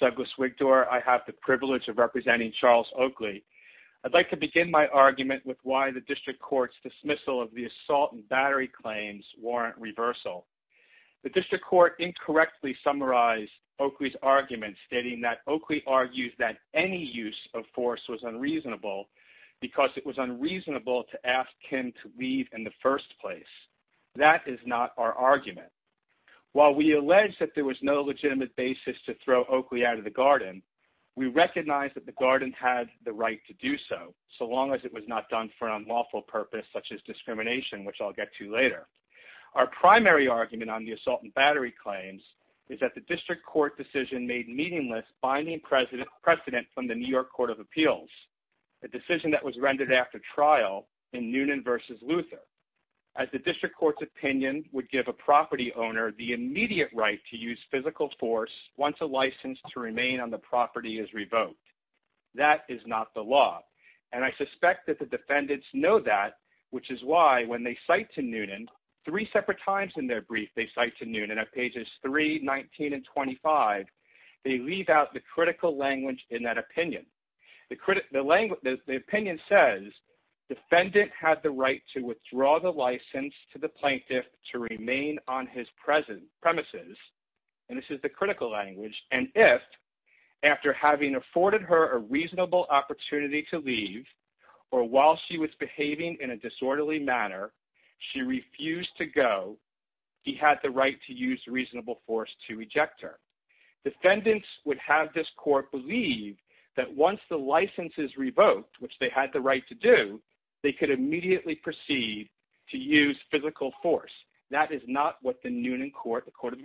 Douglas Wigdor, I have the privilege of representing Charles Oakley. I'd like to begin my argument with why the District Court's dismissal of the assault and battery claims warrant reversal. The District Court incorrectly summarized Oakley's argument stating that Oakley argued that any use of force was unreasonable because it was unreasonable to ask him to leave in the first place. That is not our argument. While we allege that there was no legitimate basis to throw Oakley out of the garden, we recognize that the garden had the right to do so, so long as it was not done for an unlawful purpose such as discrimination, which I'll get to later. Our primary argument on the assault and battery claims is that the District Court decision made meaningless binding precedent from the New York Court of Appeals, a decision that was rendered after trial in Noonan v. Luther, as the District Court's opinion would give a property owner the immediate right to use physical force once a defendant's know that, which is why when they cite to Noonan, three separate times in their brief they cite to Noonan at pages 3, 19, and 25, they leave out the critical language in that opinion. The opinion says, defendant had the right to withdraw the license to the plaintiff to remain on his premises, and this is the critical language, and if, after having afforded her a reasonable opportunity to go, while she was behaving in a disorderly manner, she refused to go, he had the right to use reasonable force to reject her. Defendants would have this court believe that once the license is revoked, which they had the right to do, they could immediately proceed to use physical force. That is not what the Noonan Court, the Court of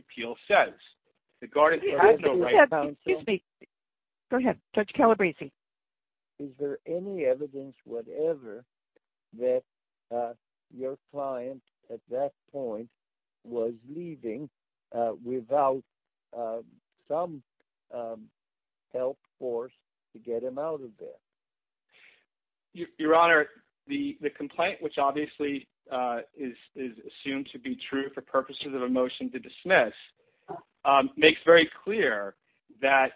Your Honor, the complaint, which obviously is assumed to be true for purposes of a motion to dismiss, makes very clear that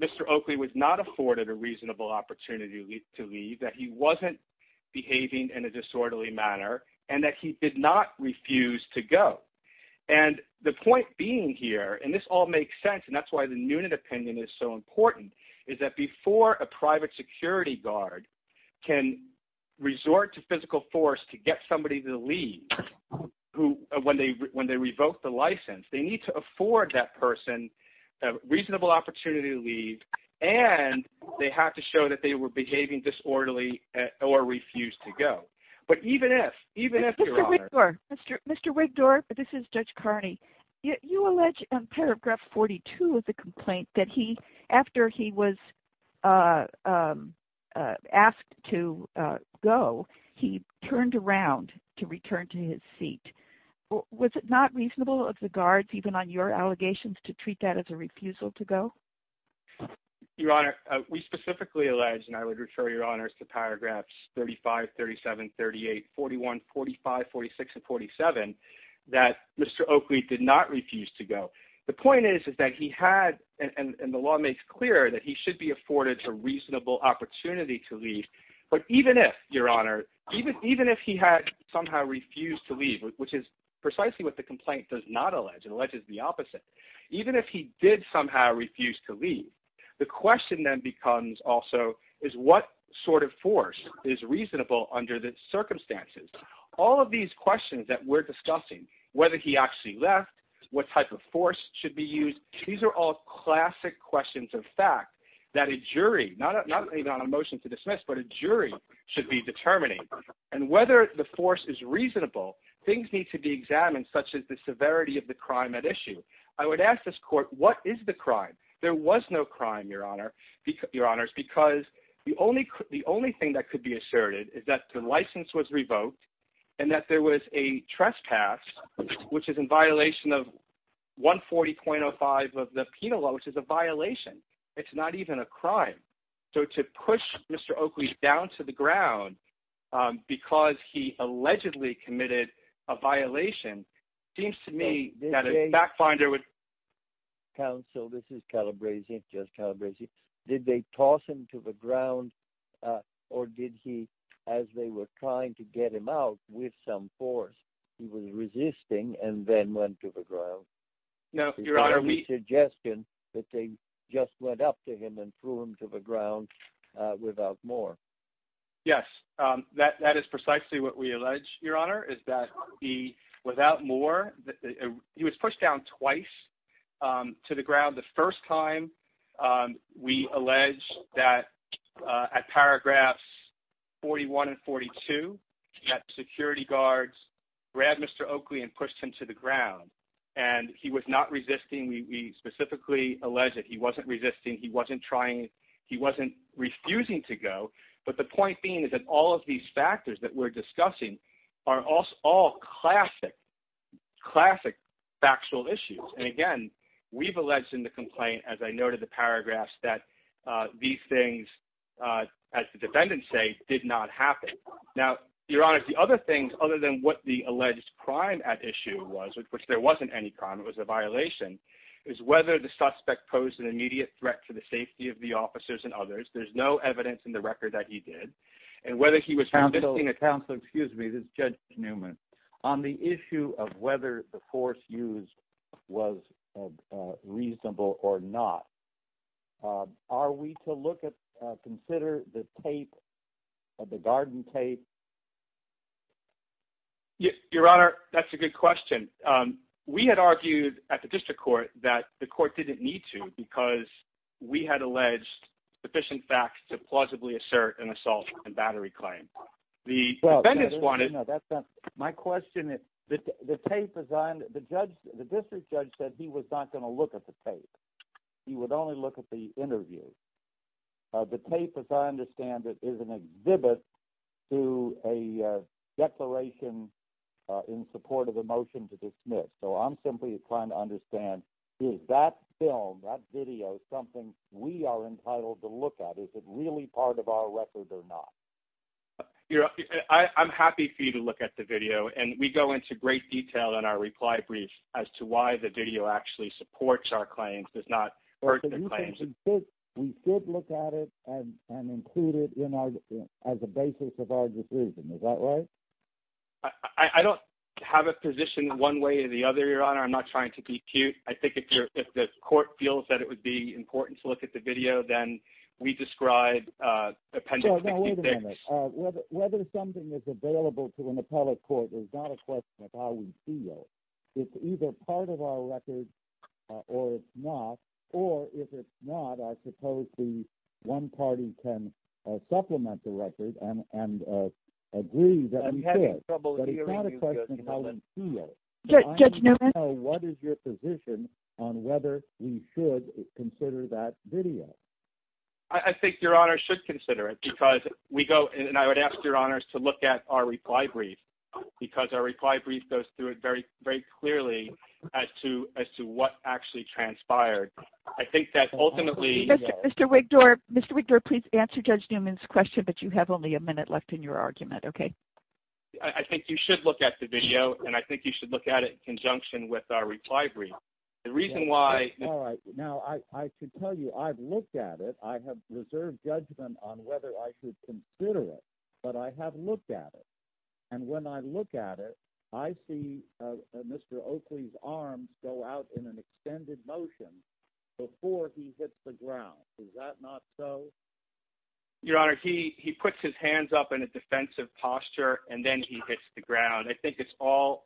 Mr. Oakley was not afforded a reasonable opportunity to leave, that he wasn't behaving in a disorderly manner, and that he did not refuse to go, and the point being here, and this all makes sense, and that's why the Noonan opinion is so important, is that before a private security guard can resort to physical force to get somebody to leave when they revoke the license, they need to afford that person a reasonable opportunity to leave, and they have to show that they were behaving disorderly or refused to go. But even if, even if, Your Honor. Mr. Wigdor, this is Judge Carney. You allege in paragraph 42 of the complaint that he, after he was asked to go, he turned around to return to his seat. Was it not reasonable of the guards, even on your honors to paragraphs 35, 37, 38, 41, 45, 46, and 47, that Mr. Oakley did not refuse to go? The point is that he had, and the law makes clear that he should be afforded a reasonable opportunity to leave, but even if, Your Honor, even if he had somehow refused to leave, which is precisely what the complaint does not allege, it alleges the opposite, even if he did somehow refuse to leave, the question then becomes also is what sort of force is reasonable under the circumstances? All of these questions that we're discussing, whether he actually left, what type of force should be used, these are all classic questions of fact that a jury, not even on a motion to dismiss, but a jury should be determining, and whether the force is reasonable, things need to be examined, such as the severity of the crime at issue. I would ask this court, what is the crime? There was no crime, Your Honors, because the only thing that could be asserted is that the license was revoked and that there was a trespass, which is in violation of 140.05 of the penal law, which is a violation. It's not even a crime. So to push Mr. Oakley down to the ground because he allegedly committed a violation seems to me that a backfinder would… Counsel, this is Calabresi, Judge Calabresi. Did they toss him to the ground, or did he, as they were trying to get him out with some force, he was resisting and then went to the ground? No, Your Honor, we… Yes, that is precisely what we allege, Your Honor, is that he, without more… He was pushed down twice to the ground. The first time, we allege that at paragraphs 41 and 42, that security guards grabbed Mr. Oakley and pushed him to the ground, and he was not resisting. We specifically allege that he wasn't resisting, he wasn't trying, he wasn't refusing to go. But the point being is that all of these factors that we're discussing are all classic, classic factual issues. And again, we've alleged in the complaint, as I noted in the paragraphs, that these things, as the defendants say, did not happen. Now, Your Honor, the other thing, other than what the alleged crime at issue was, which there wasn't any crime, it was a violation, is whether the suspect posed an immediate threat to the safety of the officers and others. There's no evidence in the record that he did. And whether he was resisting… Counsel, excuse me, this is Judge Newman. …on the issue of whether the force used was reasonable or not. Are we to look at, consider the tape, the garden tape? Your Honor, that's a good question. We had argued at the district court that the court didn't need to because we had alleged sufficient facts to plausibly assert an assault and battery claim. The defendants wanted… No, that's not, my question is, the tape is on, the judge, the district judge said he was not going to look at the tape. He would only look at the interview. The tape, as I understand it, is an exhibit to a declaration in support of a motion to dismiss. So I'm simply trying to understand, is that film, that video, something we are entitled to look at? Is it really part of our record or not? Your Honor, I'm happy for you to look at the video and we go into great detail in our reply brief as to why the video actually supports our claims, does not hurt the claims. But you can insist we should look at it and include it in our, as a basis of our decision, is that right? I don't have a position one way or the other, Your Honor. I'm not trying to be cute. I think if the court feels that it would be important to look at the video, then we describe appendices… Your Honor, whether something is available to an appellate court is not a question of how we feel. It's either part of our record or it's not, or if it's not, I suppose the one party can supplement the record and agree that we should, but it's not a question of how we feel. Judge Newman? I don't know what is your position on whether we should consider that video. I think Your Honor should consider it, because we go, and I would ask Your Honor to look at our reply brief, because our reply brief goes through it very, very clearly as to what actually transpired. I think that ultimately… Mr. Wigdorf, Mr. Wigdorf, please answer Judge Newman's question, but you have only a minute left in your argument, okay? I think you should look at the video, and I think you should look at it in conjunction with our reply brief. The reason why… All right. Now, I should tell you I've looked at it. I have reserved judgment on whether I should consider it, but I have looked at it, and when I look at it, I see Mr. Oakley's arms go out in an extended motion before he hits the ground. Is that not so? Your Honor, he puts his hands up in a defensive posture, and then he hits the ground. I think it's all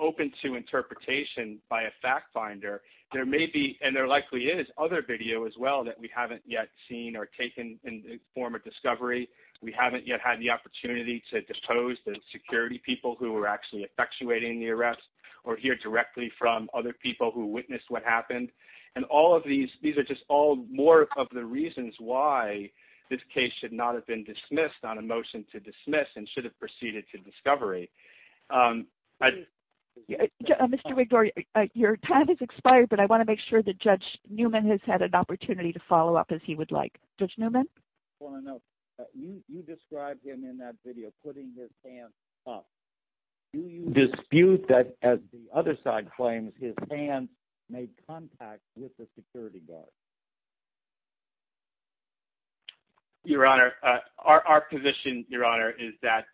open to interpretation by a fact finder. There may be, and there likely is, other video as well that we haven't yet seen or taken in the form of discovery. We haven't yet had the opportunity to depose the security people who were actually effectuating the arrest or hear directly from other people who witnessed what happened. And all of these, these are just all more of the reasons why this case should not have been dismissed on a motion to dismiss and should have proceeded to discovery. Mr. Wigdor, your time has expired, but I want to make sure that Judge Newman has had an opportunity to follow up as he would like. Judge Newman? Well, I know you described him in that video putting his hands up. Do you dispute that, as the other side claims, his hands made contact with the security guard? Your Honor, our position, Your Honor, is that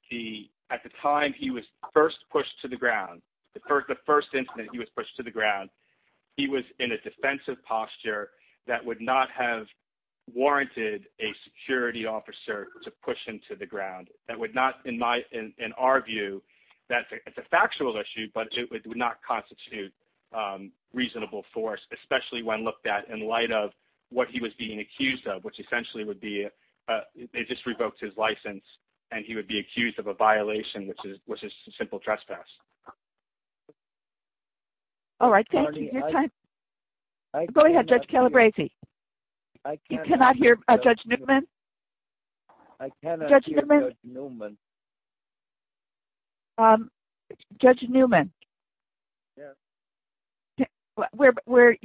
at the time he was first pushed to the ground, the first incident he was pushed to the ground, he was in a defensive posture that would not have warranted a security officer to push him to the ground. That would not, in my, in our view, that's a factual issue, but it would not constitute reasonable force, especially when looked at in light of what he was being accused of, which essentially would be, they just revoked his license, and he would be accused of a violation, which is a simple trespass. All right, thank you. Your time. Go ahead, Judge Calabresi. You cannot hear Judge Newman? Judge Newman? Judge Newman? We're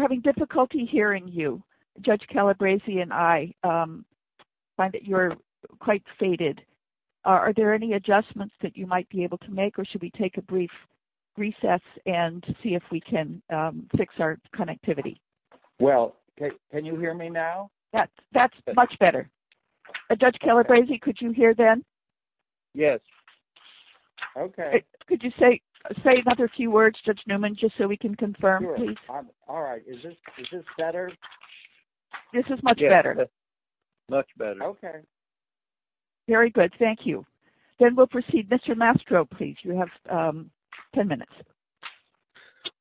having difficulty hearing you. Judge Calabresi and I find that you're quite faded. Are there any adjustments that you might be able to make, or should we take a brief recess and see if we can fix our connectivity? Well, can you hear me now? That's much better. Judge Calabresi, could you hear then? Yes. Okay. Could you say another few words, Judge Newman, just so we can confirm, please? All right. Is this better? This is much better. Much better. Okay. Very good. Thank you. Then we'll proceed. Mr. Mastro, please. You have 10 minutes.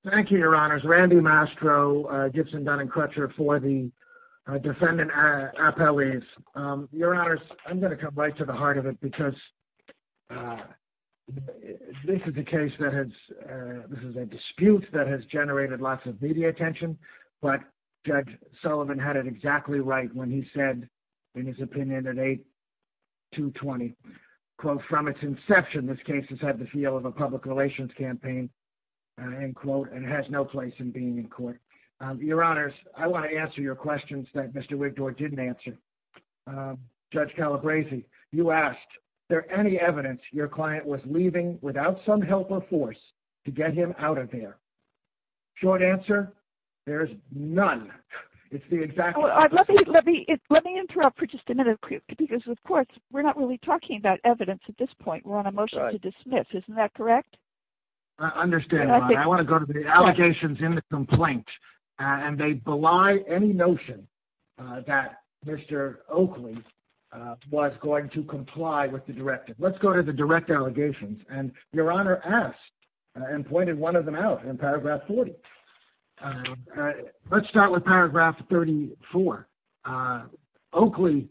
Thank you, Your Honors. Randy Mastro, Gibson Dunning Crutcher for the defendant appellees. Your Honors, I'm going to come right to the heart of it because this is a case that has, this is a dispute that has generated lots of media attention, but Judge Sullivan had it exactly right when he said, in his opinion, at 8-220, quote, from its inception, this case has had the feel of a public relations campaign, end quote, and has no place in being in court. Your Honors, I want to answer your questions that Mr. Wigdor didn't answer. Judge Calabresi, you asked, is there any evidence your client was leaving without some help or force to get him out of there? Short answer, there's none. It's the exact opposite. Let me interrupt for just a minute because, of course, we're not really talking about evidence at this point. We're on a motion to dismiss. Isn't that correct? I understand. I want to go to the allegations in the complaint, and they belie any notion that Mr. Oakley was going to comply with the directive. Let's go to the direct allegations, and Your Honor asked and pointed one of them out in paragraph 40. Let's start with paragraph 34. Oakley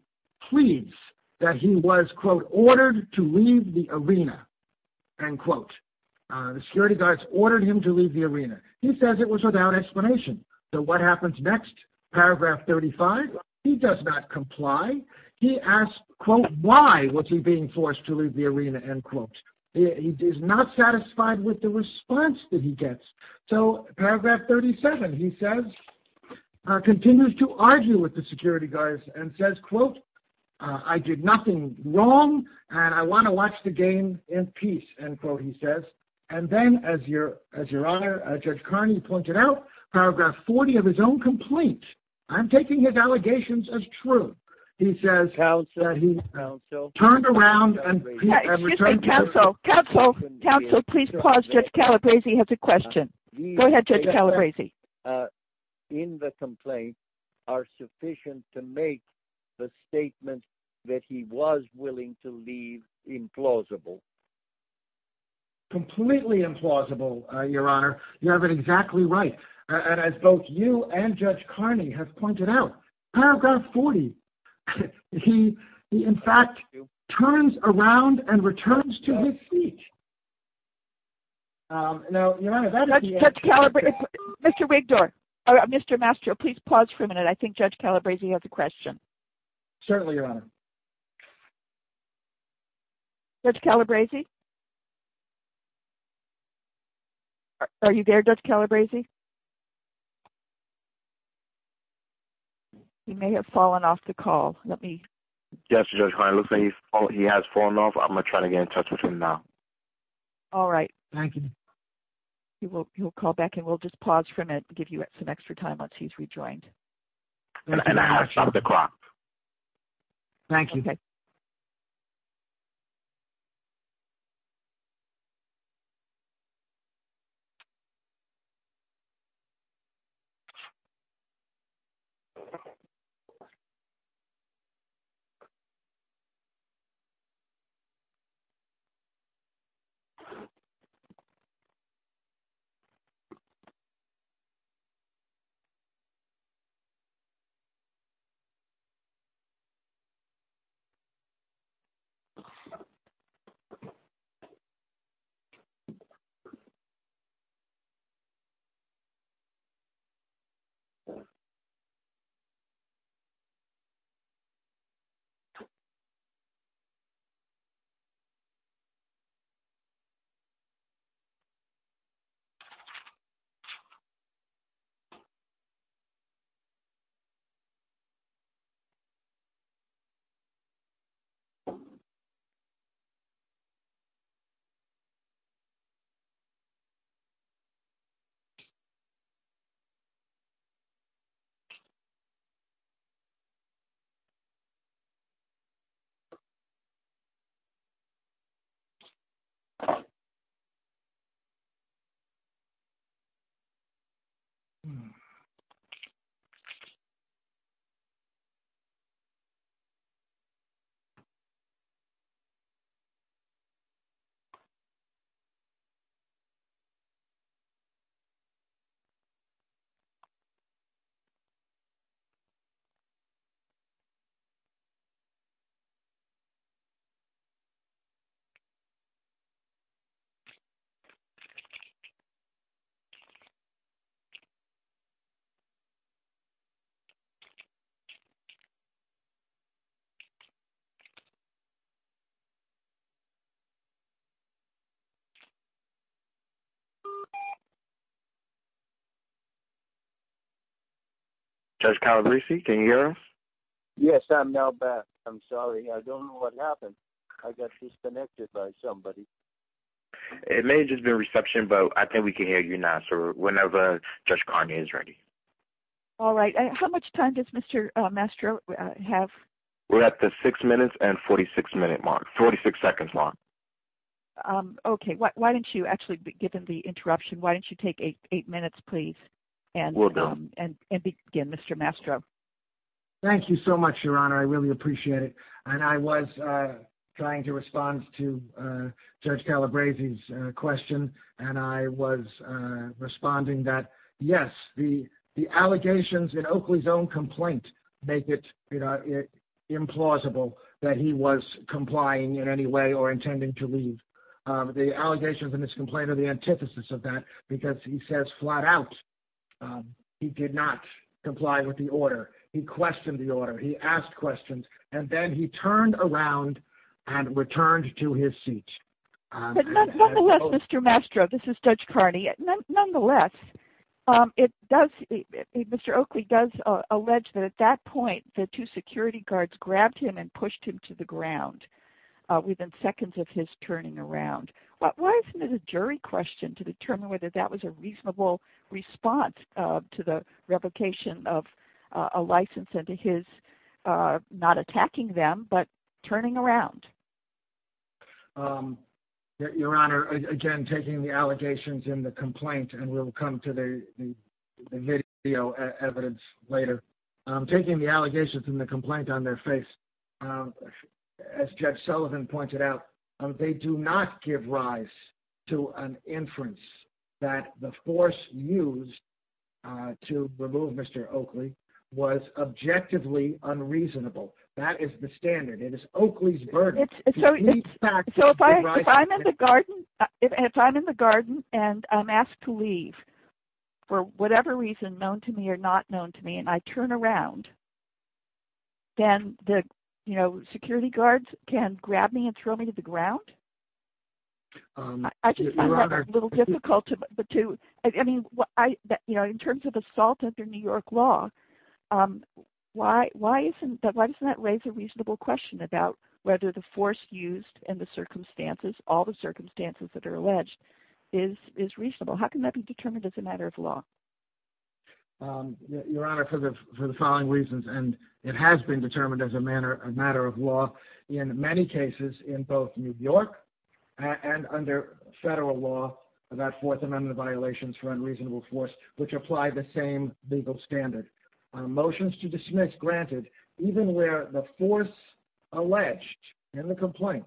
pleads that he was, quote, ordered to leave the arena, end quote. The security guards ordered him to leave the arena. He says it was without explanation. So what happens next? Paragraph 35, he does not comply. He asks, quote, why was he being forced to leave the arena, end quote. He is not satisfied with the response that he gets. So paragraph 37, he says, continues to argue with the security guards and says, quote, I did nothing wrong, and I want to watch the game in peace, end quote, he says. And then, as Your Honor, Judge Carney pointed out, paragraph 40 of his own complaint, I'm taking his allegations as true. He says that he turned around and returned to the- Counsel, counsel, counsel, please pause. Judge Calabresi has a question. Go ahead, Judge Calabresi. In the complaint are sufficient to make the statement that he was willing to leave implausible. Completely implausible, Your Honor. You have it exactly right. And as both you and Judge Carney have pointed out, paragraph 40, he, in fact, turns around and returns to his seat. Judge Calabresi, Mr. Wigdor, Mr. Mastro, please pause for a minute. I think Judge Calabresi has a question. Certainly, Your Honor. Judge Calabresi? Are you there, Judge Calabresi? He may have fallen off the call. Let me- Yes, Judge Carney. It looks like he has fallen off. I'm going to try to get in touch with him now. All right. Thank you. He will call back, and we'll just pause for a minute and give you some extra time once he's rejoined. And I have some of the crops. Thank you. Thank you. Thank you. Thank you. Thank you. Thank you. Thank you. Judge Calabresi, can you hear us? Yes, I'm now back. I'm sorry. I don't know what happened. I got disconnected by somebody. It may have just been a reception, but I think we can hear you now, sir, whenever Judge Carney is ready. All right. How much time does Mr. Mastro have? We're at the 6 minutes and 46 minute mark-46 seconds long. Okay. Why don't you-actually, given the interruption, why don't you take 8 minutes, please, and begin, Mr. Mastro? Thank you so much, Your Honor. I really appreciate it. And I was trying to respond to Judge Calabresi's question, and I was responding that, yes, the allegations in Oakley's own complaint make it implausible that he was complying in any way or intending to leave. The allegations in his complaint are the antithesis of that because he says flat out he did not comply with the order. He questioned the order. He asked questions, and then he turned around and returned to his seat. Nonetheless, Mr. Mastro, this is Judge Carney. Nonetheless, Mr. Oakley does allege that at that point, the two security guards grabbed him and pushed him to the ground within seconds of his turning around. Why isn't it a jury question to determine whether that was a reasonable response to the replication of a license into his not attacking them but turning around? Your Honor, again, taking the allegations in the complaint, and we'll come to the video evidence later. Taking the allegations in the complaint on their face, as Judge Sullivan pointed out, they do not give rise to an inference that the force used to remove Mr. Oakley was objectively unreasonable. That is the standard. It is Oakley's burden. If I'm in the garden and I'm asked to leave for whatever reason known to me or not known to me and I turn around, then the security guards can grab me and throw me to the ground? In terms of assault under New York law, why doesn't that raise a reasonable question about whether the force used and the circumstances, all the circumstances that are alleged, is reasonable? How can that be determined as a matter of law? Your Honor, for the following reasons, and it has been determined as a matter of law in many cases in both New York and under federal law about Fourth Amendment violations for unreasonable force, which apply the same legal standard. Motions to dismiss, granted, even where the force alleged in the complaint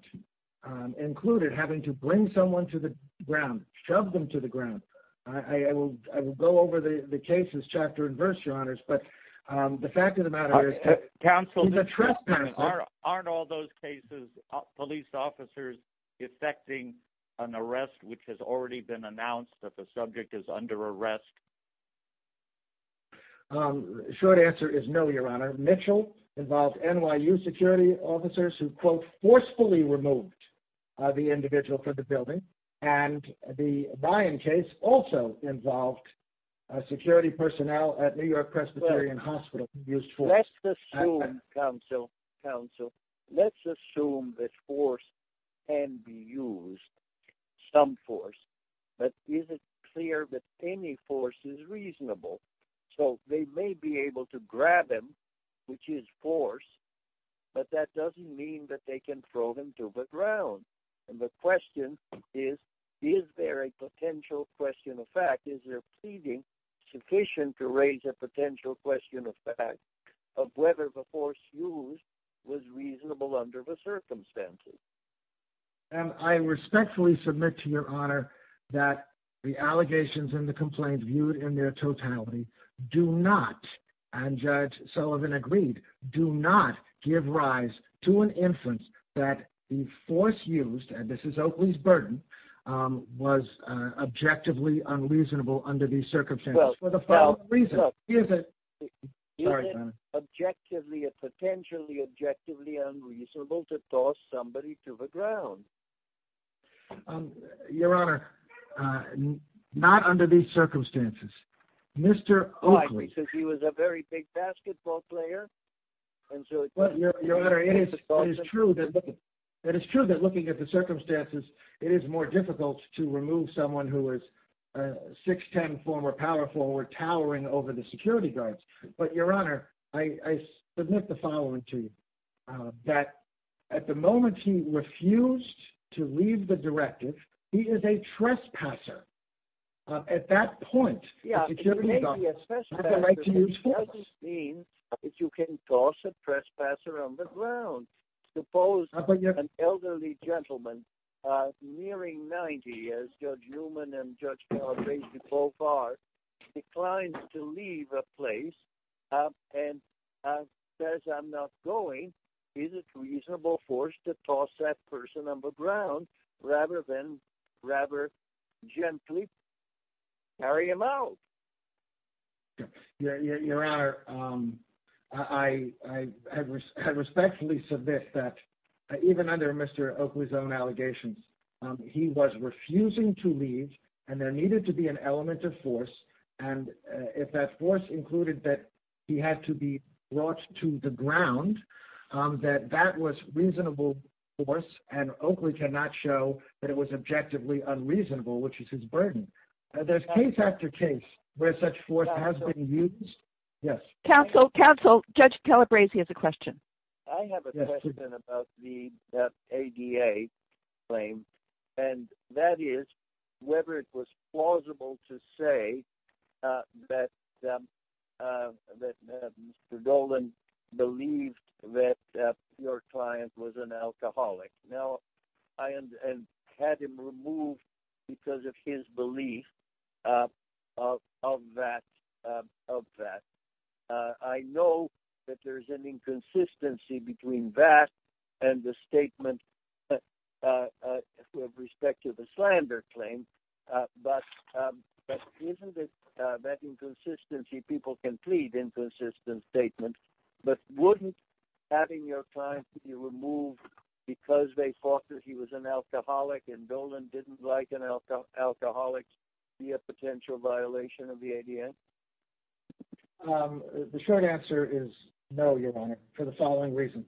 included having to bring someone to the ground, shove them to the ground. I will go over the cases chapter and verse, Your Honors, but the fact of the matter is… Counsel, aren't all those cases police officers effecting an arrest which has already been announced that the subject is under arrest? Short answer is no, Your Honor. Mitchell involved NYU security officers who, quote, forcefully removed the individual from the building. And the Byam case also involved security personnel at New York Presbyterian Hospital who used force. Let's assume, Counsel, Counsel, let's assume that force can be used, some force, but is it clear that any force is reasonable? So they may be able to grab him, which is force, but that doesn't mean that they can throw him to the ground. And the question is, is there a potential question of fact? Is their pleading sufficient to raise a potential question of fact of whether the force used was reasonable under the circumstances? And I respectfully submit to Your Honor that the allegations in the complaint viewed in their totality do not, and Judge Sullivan agreed, do not give rise to an inference that the force used, and this is Oakley's burden, was objectively unreasonable under these circumstances. Is it objectively, potentially objectively unreasonable to toss somebody to the ground? Your Honor, not under these circumstances. Mr. Oakley. Because he was a very big basketball player. Your Honor, it is true that looking at the circumstances, it is more difficult to remove someone who is 6'10", former power forward, towering over the security guards. But Your Honor, I submit the following to you, that at the moment he refused to leave the directive, he is a trespasser. At that point, it gives you the right to use force. It doesn't mean that you can toss a trespasser on the ground. Suppose an elderly gentleman nearing 90, as Judge Newman and Judge Calabresi both are, declines to leave a place and says, I'm not going. Is it reasonable for us to toss that person on the ground rather than rather gently carry him out? Your Honor, I respectfully submit that even under Mr. Oakley's own allegations, he was refusing to leave, and there needed to be an element of force. And if that force included that he had to be brought to the ground, that that was reasonable force, and Oakley cannot show that it was objectively unreasonable, which is his burden. There's case after case where such force has been used. Counsel, Counsel, Judge Calabresi has a question. I have a question about the ADA claim, and that is whether it was plausible to say that Mr. Dolan believed that your client was an alcoholic. Now, I had him removed because of his belief of that. I know that there's an inconsistency between that and the statement with respect to the slander claim, but isn't it that inconsistency? People can plead inconsistent statements, but wouldn't having your client be removed because they thought that he was an alcoholic and Dolan didn't like an alcoholic be a potential violation of the ADA? The short answer is no, Your Honor, for the following reasons.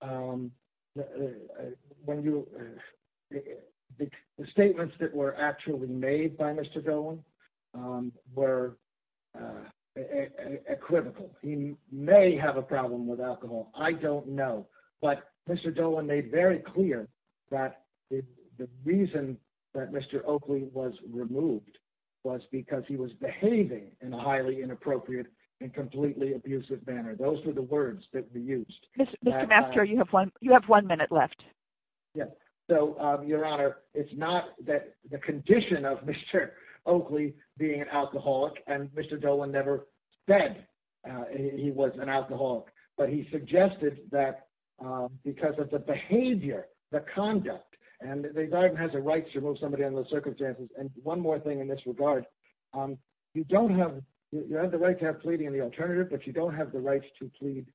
When you – the statements that were actually made by Mr. Dolan were equivocal. He may have a problem with alcohol. I don't know, but Mr. Dolan made very clear that the reason that Mr. Oakley was removed was because he was behaving in a highly inappropriate and completely abusive manner. Those were the words that were used. Mr. Mastro, you have one minute left. Yes. So, Your Honor, it's not that the condition of Mr. Oakley being an alcoholic and Mr. Dolan never said he was an alcoholic, but he suggested that because of the behavior, the conduct, and the government has a right to remove somebody under those circumstances. And one more thing in this regard. You don't have – you have the right to have pleading in the alternative, but you don't have the right to plead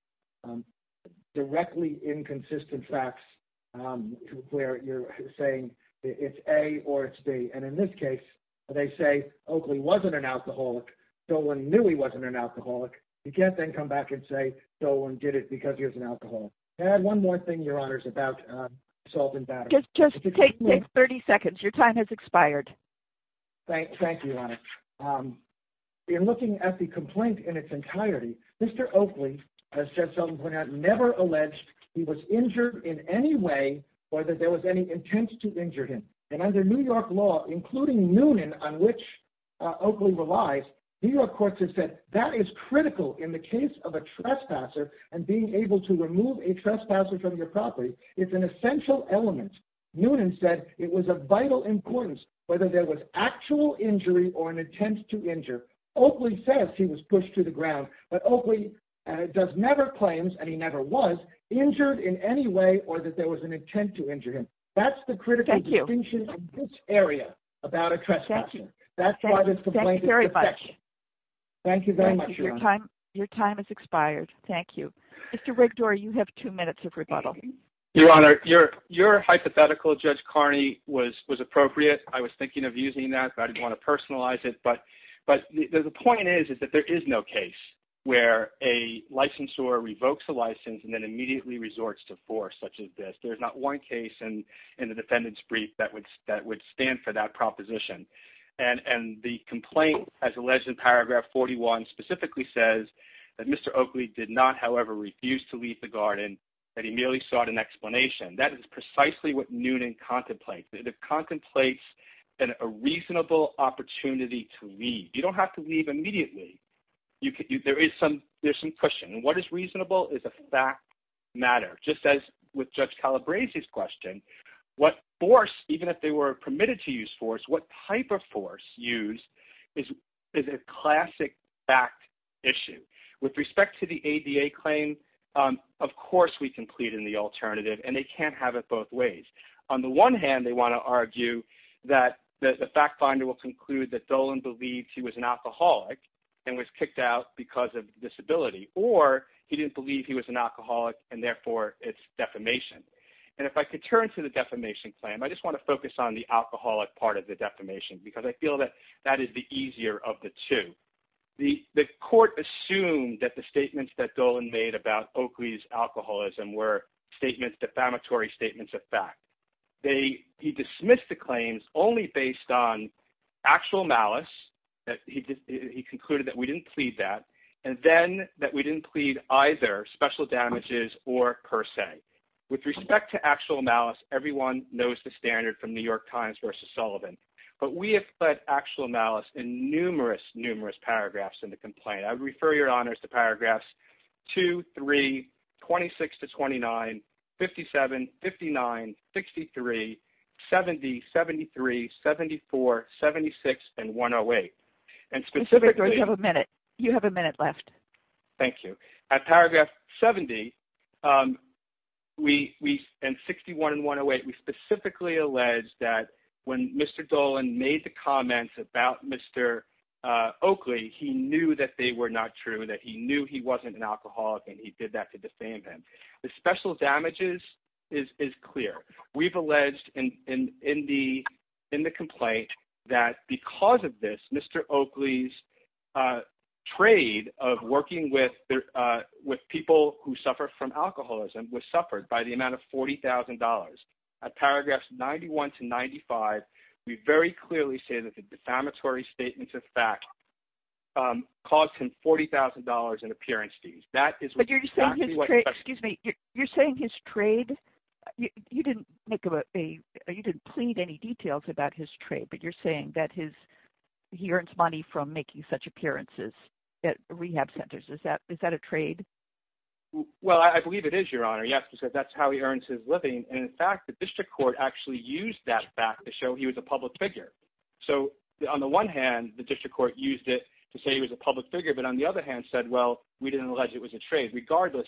directly inconsistent facts where you're saying it's A or it's B. And in this case, they say Oakley wasn't an alcoholic. Dolan knew he wasn't an alcoholic. You can't then come back and say Dolan did it because he was an alcoholic. And one more thing, Your Honor, is about assault and battery. Just take 30 seconds. Your time has expired. Thank you, Your Honor. In looking at the complaint in its entirety, Mr. Oakley, as Jesselyn pointed out, never alleged he was injured in any way or that there was any intent to injure him. And under New York law, including Noonan, on which Oakley relies, New York courts have said that is critical in the case of a trespasser and being able to remove a trespasser from your property. It's an essential element. Noonan said it was of vital importance whether there was actual injury or an intent to injure. Oakley says he was pushed to the ground, but Oakley does never claim – and he never was – injured in any way or that there was an intent to injure him. That's the critical distinction in this area about a trespasser. Thank you. That's why this complaint is suspected. Thank you very much. Thank you very much, Your Honor. Your time has expired. Thank you. Mr. Rigdor, you have two minutes of rebuttal. Your Honor, your hypothetical, Judge Carney, was appropriate. I was thinking of using that, but I didn't want to personalize it. But the point is that there is no case where a licensor revokes a license and then immediately resorts to force such as this. There's not one case in the defendant's brief that would stand for that proposition. And the complaint, as alleged in paragraph 41, specifically says that Mr. Oakley did not, however, refuse to leave the garden, that he merely sought an explanation. That is precisely what Noonan contemplates. It contemplates a reasonable opportunity to leave. You don't have to leave immediately. There is some cushion. And what is reasonable is a fact matter. Just as with Judge Calabresi's question, what force, even if they were permitted to use force, what type of force used is a classic fact issue. With respect to the ADA claim, of course we can plead in the alternative, and they can't have it both ways. On the one hand, they want to argue that the fact finder will conclude that Dolan believed he was an alcoholic and was kicked out because of disability. Or he didn't believe he was an alcoholic, and therefore it's defamation. And if I could turn to the defamation claim, I just want to focus on the alcoholic part of the defamation because I feel that that is the easier of the two. The court assumed that the statements that Dolan made about Oakley's alcoholism were defamatory statements of fact. He dismissed the claims only based on actual malice. He concluded that we didn't plead that. And then that we didn't plead either special damages or per se. With respect to actual malice, everyone knows the standard from New York Times versus Sullivan. But we have put actual malice in numerous, numerous paragraphs in the complaint. I would refer your honors to paragraphs 2, 3, 26-29, 57, 59, 63, 70, 73, 74, 76, and 108. And specifically... You have a minute left. Thank you. At paragraph 70 and 61 and 108, we specifically allege that when Mr. Dolan made the comments about Mr. Oakley, he knew that they were not true, that he knew he wasn't an alcoholic, and he did that to defame him. The special damages is clear. We've alleged in the complaint that because of this, Mr. Oakley's trade of working with people who suffer from alcoholism was suffered by the amount of $40,000. At paragraphs 91 to 95, we very clearly say that the defamatory statements of fact caused him $40,000 in appearance fees. Excuse me. You're saying his trade... You didn't plead any details about his trade, but you're saying that he earns money from making such appearances at rehab centers. Is that a trade? Well, I believe it is, Your Honor. Yes, because that's how he earns his living. And, in fact, the district court actually used that fact to show he was a public figure. So, on the one hand, the district court used it to say he was a public figure, but, on the other hand, said, well, we didn't allege it was a trade. Regardless,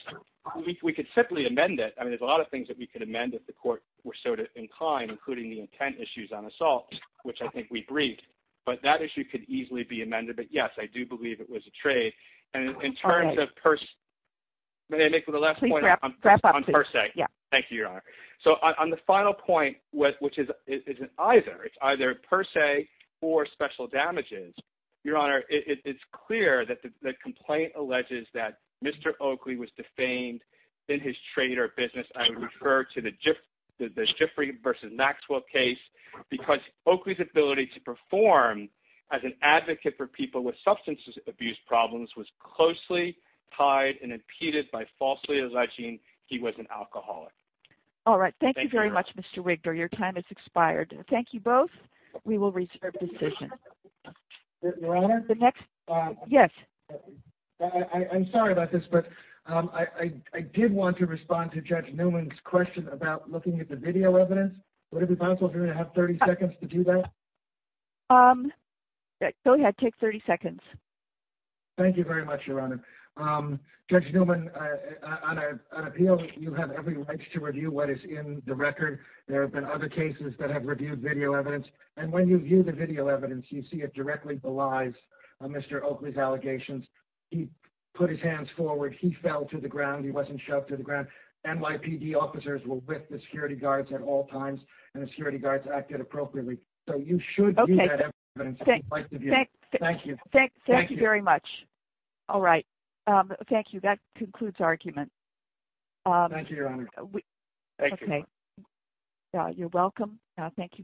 we could simply amend it. I mean, there's a lot of things that we could amend if the court were so inclined, including the intent issues on assault, which I think we briefed. But that issue could easily be amended. But, yes, I do believe it was a trade. And in terms of... May I make the last point on per se? Yeah. Thank you, Your Honor. So, on the final point, which is either, it's either per se or special damages, Your Honor, it's clear that the complaint alleges that Mr. Oakley was defamed in his trade or business. I would refer to the Giffrey v. Maxwell case because Oakley's ability to perform as an advocate for people with substance abuse problems was closely tied and impeded by falsely alleging he was an alcoholic. All right. Thank you very much, Mr. Wigdor. Your time has expired. Thank you both. We will reserve decision. Your Honor? The next... Yes. I'm sorry about this, but I did want to respond to Judge Newman's question about looking at the video evidence. Would it be possible for me to have 30 seconds to do that? Go ahead. Take 30 seconds. Thank you very much, Your Honor. Judge Newman, on an appeal, you have every right to review what is in the record. There have been other cases that have reviewed video evidence. And when you view the video evidence, you see it directly belies Mr. Oakley's allegations. He put his hands forward. He fell to the ground. He wasn't shoved to the ground. NYPD officers were with the security guards at all times, and the security guards acted appropriately. So you should view that evidence. Thank you. Thank you very much. All right. Thank you. That concludes argument. Thank you, Your Honor. Thank you. You're welcome. Thank you both.